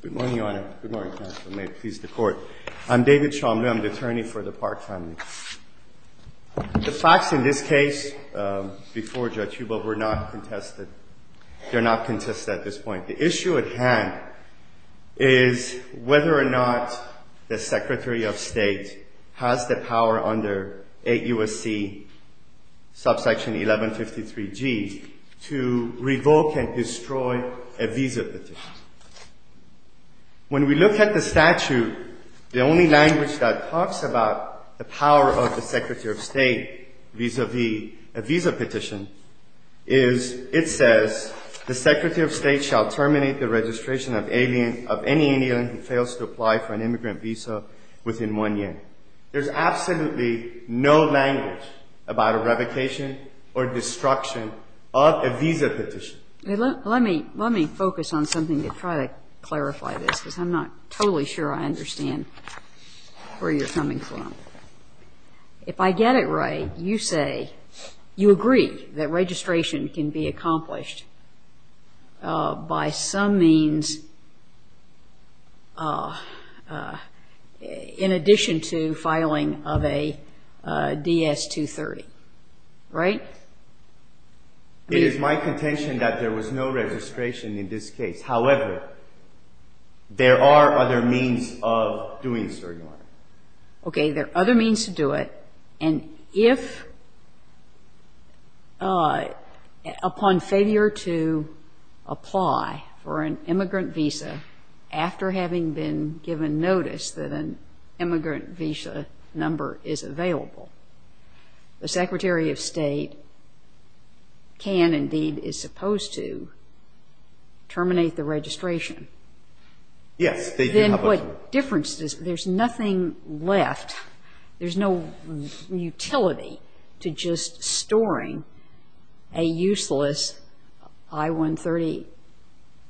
Good morning, Your Honor. Good morning, counsel. May it please the Court. I'm David Shomly. I'm the attorney for the Park family. The facts in this case before Judge Hubel were not contested. They're not contested at this point. The issue at hand is whether or not the Secretary of State has the power under 8 U.S.C. subsection 1153G to revoke and destroy a visa petition. When we look at the statute, the only language that talks about the power of the Secretary of State vis-à-vis a visa petition is it says, the Secretary of State shall terminate the registration of any Indian who fails to apply for an immigrant visa within one year. There's absolutely no language about a revocation or destruction of a visa petition. Let me focus on something to try to clarify this, because I'm not totally sure I understand where you're coming from. If I get it right, you say you agree that registration can be accomplished by some means in addition to filing of a DS-230, right? It is my contention that there was no registration in this case. However, there are other means of doing so, Your Honor. Okay, there are other means to do it, and if upon failure to apply for an immigrant visa after having been given notice that an immigrant visa number is available, the Secretary of State can indeed, is supposed to, terminate the registration. Yes. Then what difference does, there's nothing left, there's no utility to just storing a useless I-130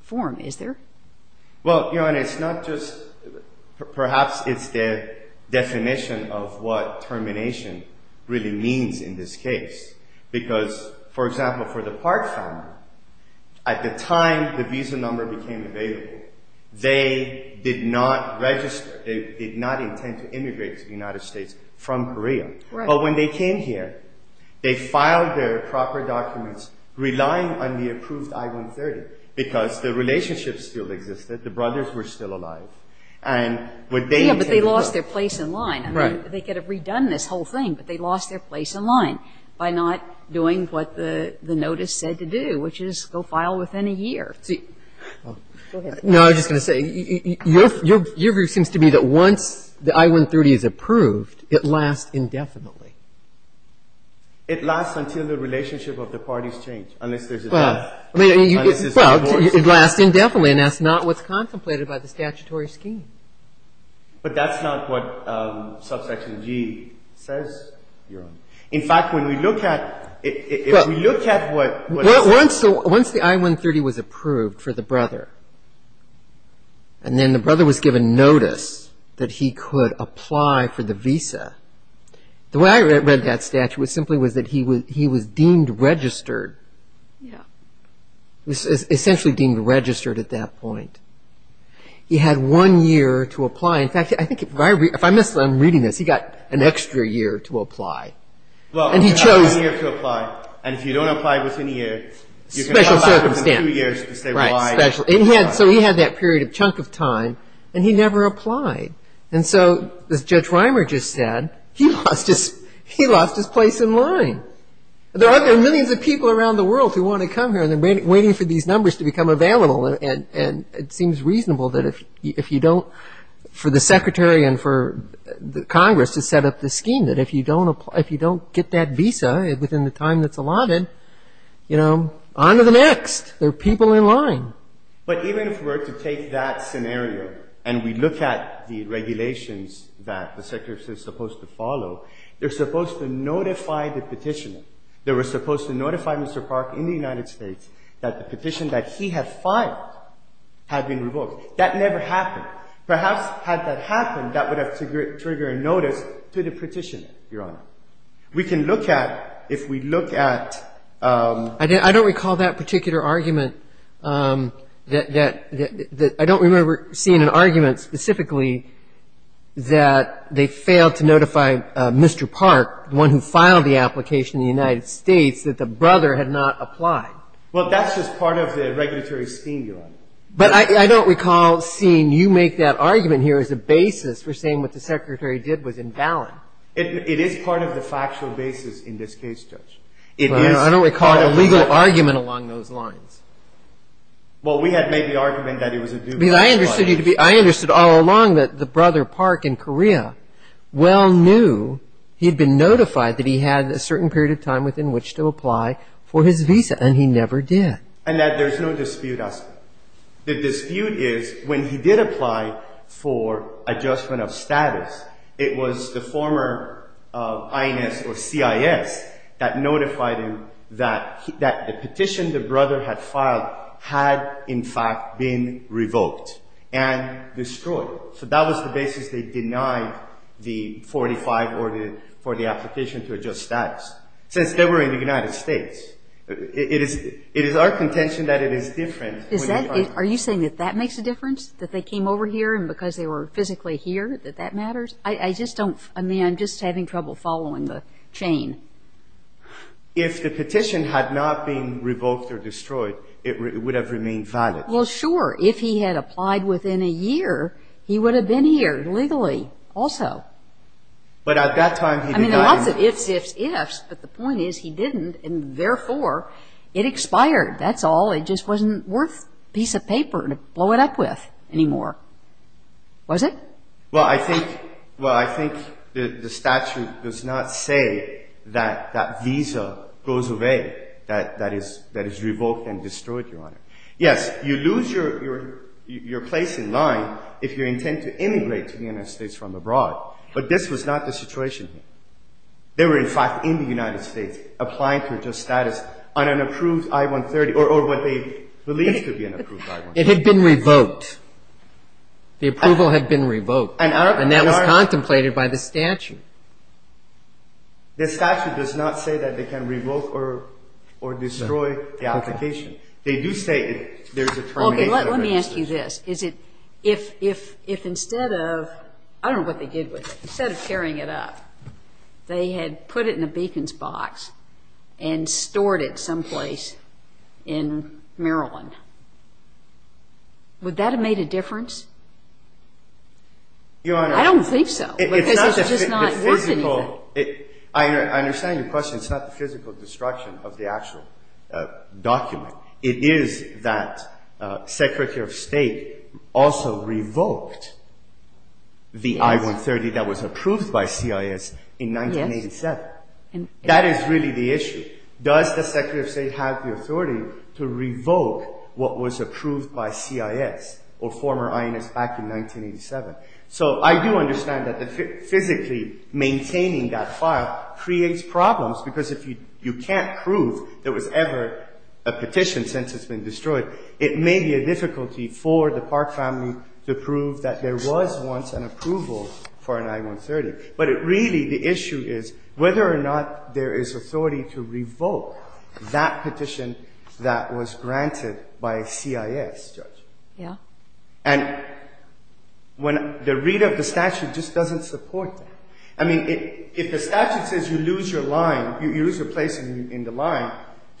form, is there? Well, Your Honor, it's not just, perhaps it's the definition of what termination really means in this case. Because, for example, for the Park family, at the time the visa number became available, they did not register, they did not intend to immigrate to the United States from Korea. Right. But when they came here, they filed their proper documents relying on the approved I-130, because the relationship still existed, the brothers were still alive. Yeah, but they lost their place in line. Right. They could have redone this whole thing, but they lost their place in line by not doing what the notice said to do, which is go file within a year. Go ahead. No, I was just going to say, your view seems to be that once the I-130 is approved, it lasts indefinitely. It lasts until the relationship of the parties change, unless there's a divorce. Well, it lasts indefinitely, and that's not what's contemplated by the statutory scheme. But that's not what subsection G says. You're on. In fact, when we look at it, if we look at what- Once the I-130 was approved for the brother, and then the brother was given notice that he could apply for the visa, the way I read that statute simply was that he was deemed registered. Yeah. Essentially deemed registered at that point. He had one year to apply. In fact, I think if I'm reading this, he got an extra year to apply, and he chose- Well, you have a year to apply, and if you don't apply within a year- Special circumstance. Right, special. So he had that period of chunk of time, and he never applied. And so, as Judge Reimer just said, he lost his place in line. There are millions of people around the world who want to come here, and they're waiting for these numbers to become available. And it seems reasonable that if you don't, for the Secretary and for Congress to set up this scheme, that if you don't get that visa within the time that's allotted, you know, on to the next. There are people in line. But even if we're to take that scenario, and we look at the regulations that the Secretary is supposed to follow, they're supposed to notify the petitioner. They were supposed to notify Mr. Park in the United States that the petition that he had filed had been revoked. That never happened. Perhaps had that happened, that would have triggered a notice to the petitioner, Your Honor. We can look at, if we look at- I don't recall that particular argument. I don't remember seeing an argument specifically that they failed to notify Mr. Park, the one who filed the application in the United States, that the brother had not applied. Well, that's just part of the regulatory scheme, Your Honor. But I don't recall seeing you make that argument here as a basis for saying what the Secretary did was invalid. It is part of the factual basis in this case, Judge. I don't recall a legal argument along those lines. Well, we had made the argument that it was a do-gooder. I understood all along that the brother, Park, in Korea, well knew he had been notified that he had a certain period of time within which to apply for his visa, and he never did. And that there's no dispute as to that. The dispute is when he did apply for adjustment of status, it was the former INS or CIS that notified him that the petition the brother had filed had, in fact, been revoked and destroyed. So that was the basis they denied the 45 order for the application to adjust status. Since they were in the United States, it is our contention that it is different. Is that – are you saying that that makes a difference, that they came over here and because they were physically here, that that matters? I just don't – I mean, I'm just having trouble following the chain. If the petition had not been revoked or destroyed, it would have remained valid. Well, sure. If he had applied within a year, he would have been here legally also. But at that time, he denied it. I mean, there are lots of ifs, ifs, ifs, but the point is he didn't, and therefore, it expired. That's all. It just wasn't worth a piece of paper to blow it up with anymore, was it? Well, I think – well, I think the statute does not say that that visa goes away, that is revoked and destroyed, Your Honor. Yes, you lose your place in line if you intend to immigrate to the United States from abroad, but this was not the situation here. They were, in fact, in the United States, applying for a status on an approved I-130 or what they believed to be an approved I-130. It had been revoked. The approval had been revoked. And that was contemplated by the statute. The statute does not say that they can revoke or destroy the application. They do say there's a termination of registration. Let me ask you this. Is it – if instead of – I don't know what they did with it. Instead of tearing it up, they had put it in a beacons box and stored it someplace in Maryland. Would that have made a difference? Your Honor. I don't think so. Because it's just not worth anything. The physical – I understand your question. It's not the physical destruction of the actual document. It is that Secretary of State also revoked the I-130 that was approved by CIS in 1987. That is really the issue. Does the Secretary of State have the authority to revoke what was approved by CIS or former INS back in 1987? So I do understand that physically maintaining that file creates problems. Because if you can't prove there was ever a petition since it's been destroyed, it may be a difficulty for the Park family to prove that there was once an approval for an I-130. But it really – the issue is whether or not there is authority to revoke that petition that was granted by CIS, Judge. Yeah. And when the reader of the statute just doesn't support that. I mean, if the statute says you lose your line, you lose your place in the line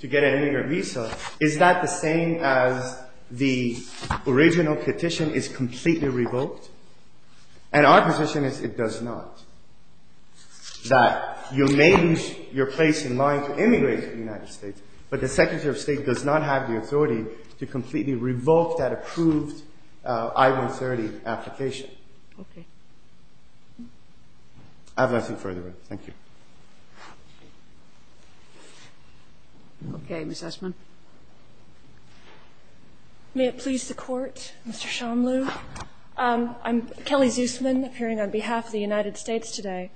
to get an immigrant visa, is that the same as the original petition is completely revoked? And our position is it does not. That you may lose your place in line to immigrate to the United States, but the Secretary of State does not have the authority to completely revoke that approved I-130 application. Okay. I have nothing further. Thank you. Okay. Ms. Essman. May it please the Court, Mr. Shomlu. I'm Kelly Zusman, appearing on behalf of the United States today.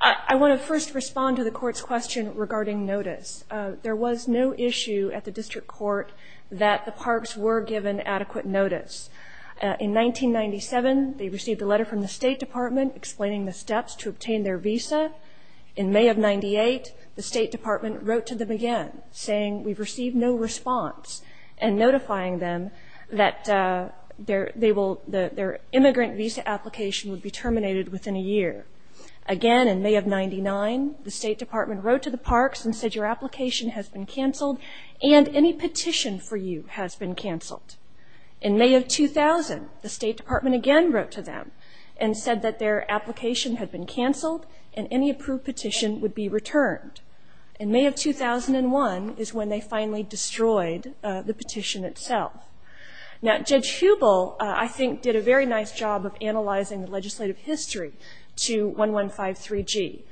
I want to first respond to the Court's question regarding notice. There was no issue at the district court that the parks were given adequate notice. In 1997, they received a letter from the State Department explaining the steps to obtain their visa. In May of 98, the State Department wrote to them again saying we've received no response and notifying them that their immigrant visa application would be terminated within a year. Again, in May of 99, the State Department wrote to the parks and said your application has been canceled and any petition for you has been canceled. In May of 2000, the State Department again wrote to them and said that their application had been canceled and any approved petition would be returned. In May of 2001 is when they finally destroyed the petition itself. Now, Judge Hubel, I think, did a very nice job of analyzing the legislative history to 1153G.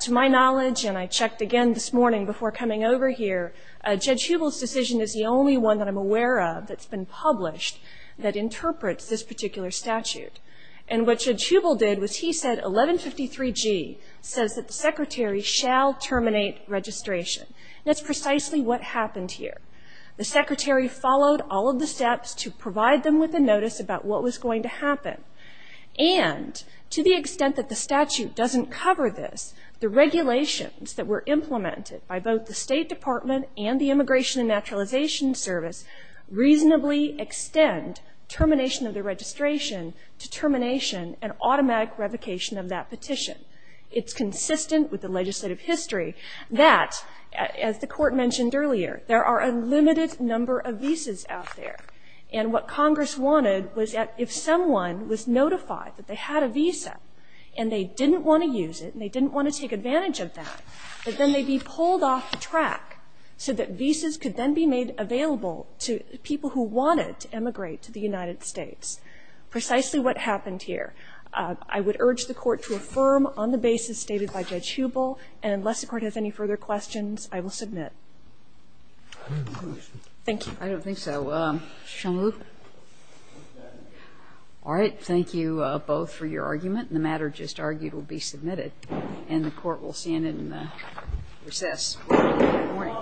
To my knowledge, and I checked again this morning before coming over here, Judge Hubel's decision is the only one that I'm aware of that's been published that interprets this particular statute. And what Judge Hubel did was he said 1153G says that the Secretary shall terminate registration. That's precisely what happened here. The Secretary followed all of the steps to provide them with a notice about what was going to happen. And to the extent that the statute doesn't cover this, the regulations that were implemented by both the State Department and the Immigration and Naturalization Service reasonably extend termination of the registration to termination and automatic revocation of that petition. It's consistent with the legislative history that, as the Court mentioned earlier, there are a limited number of visas out there. And what Congress wanted was that if someone was notified that they had a visa and they didn't want to use it and they didn't want to take advantage of that, that then they be pulled off the track so that visas could then be made available to people who wanted to emigrate to the United States, precisely what happened here. I would urge the Court to affirm on the basis stated by Judge Hubel. And unless the Court has any further questions, I will submit. Thank you. I don't think so. Shall we move? All right. Thank you both for your argument. And the matter just argued will be submitted. And the Court will stand in recess. Good morning. Thank you. Thank you.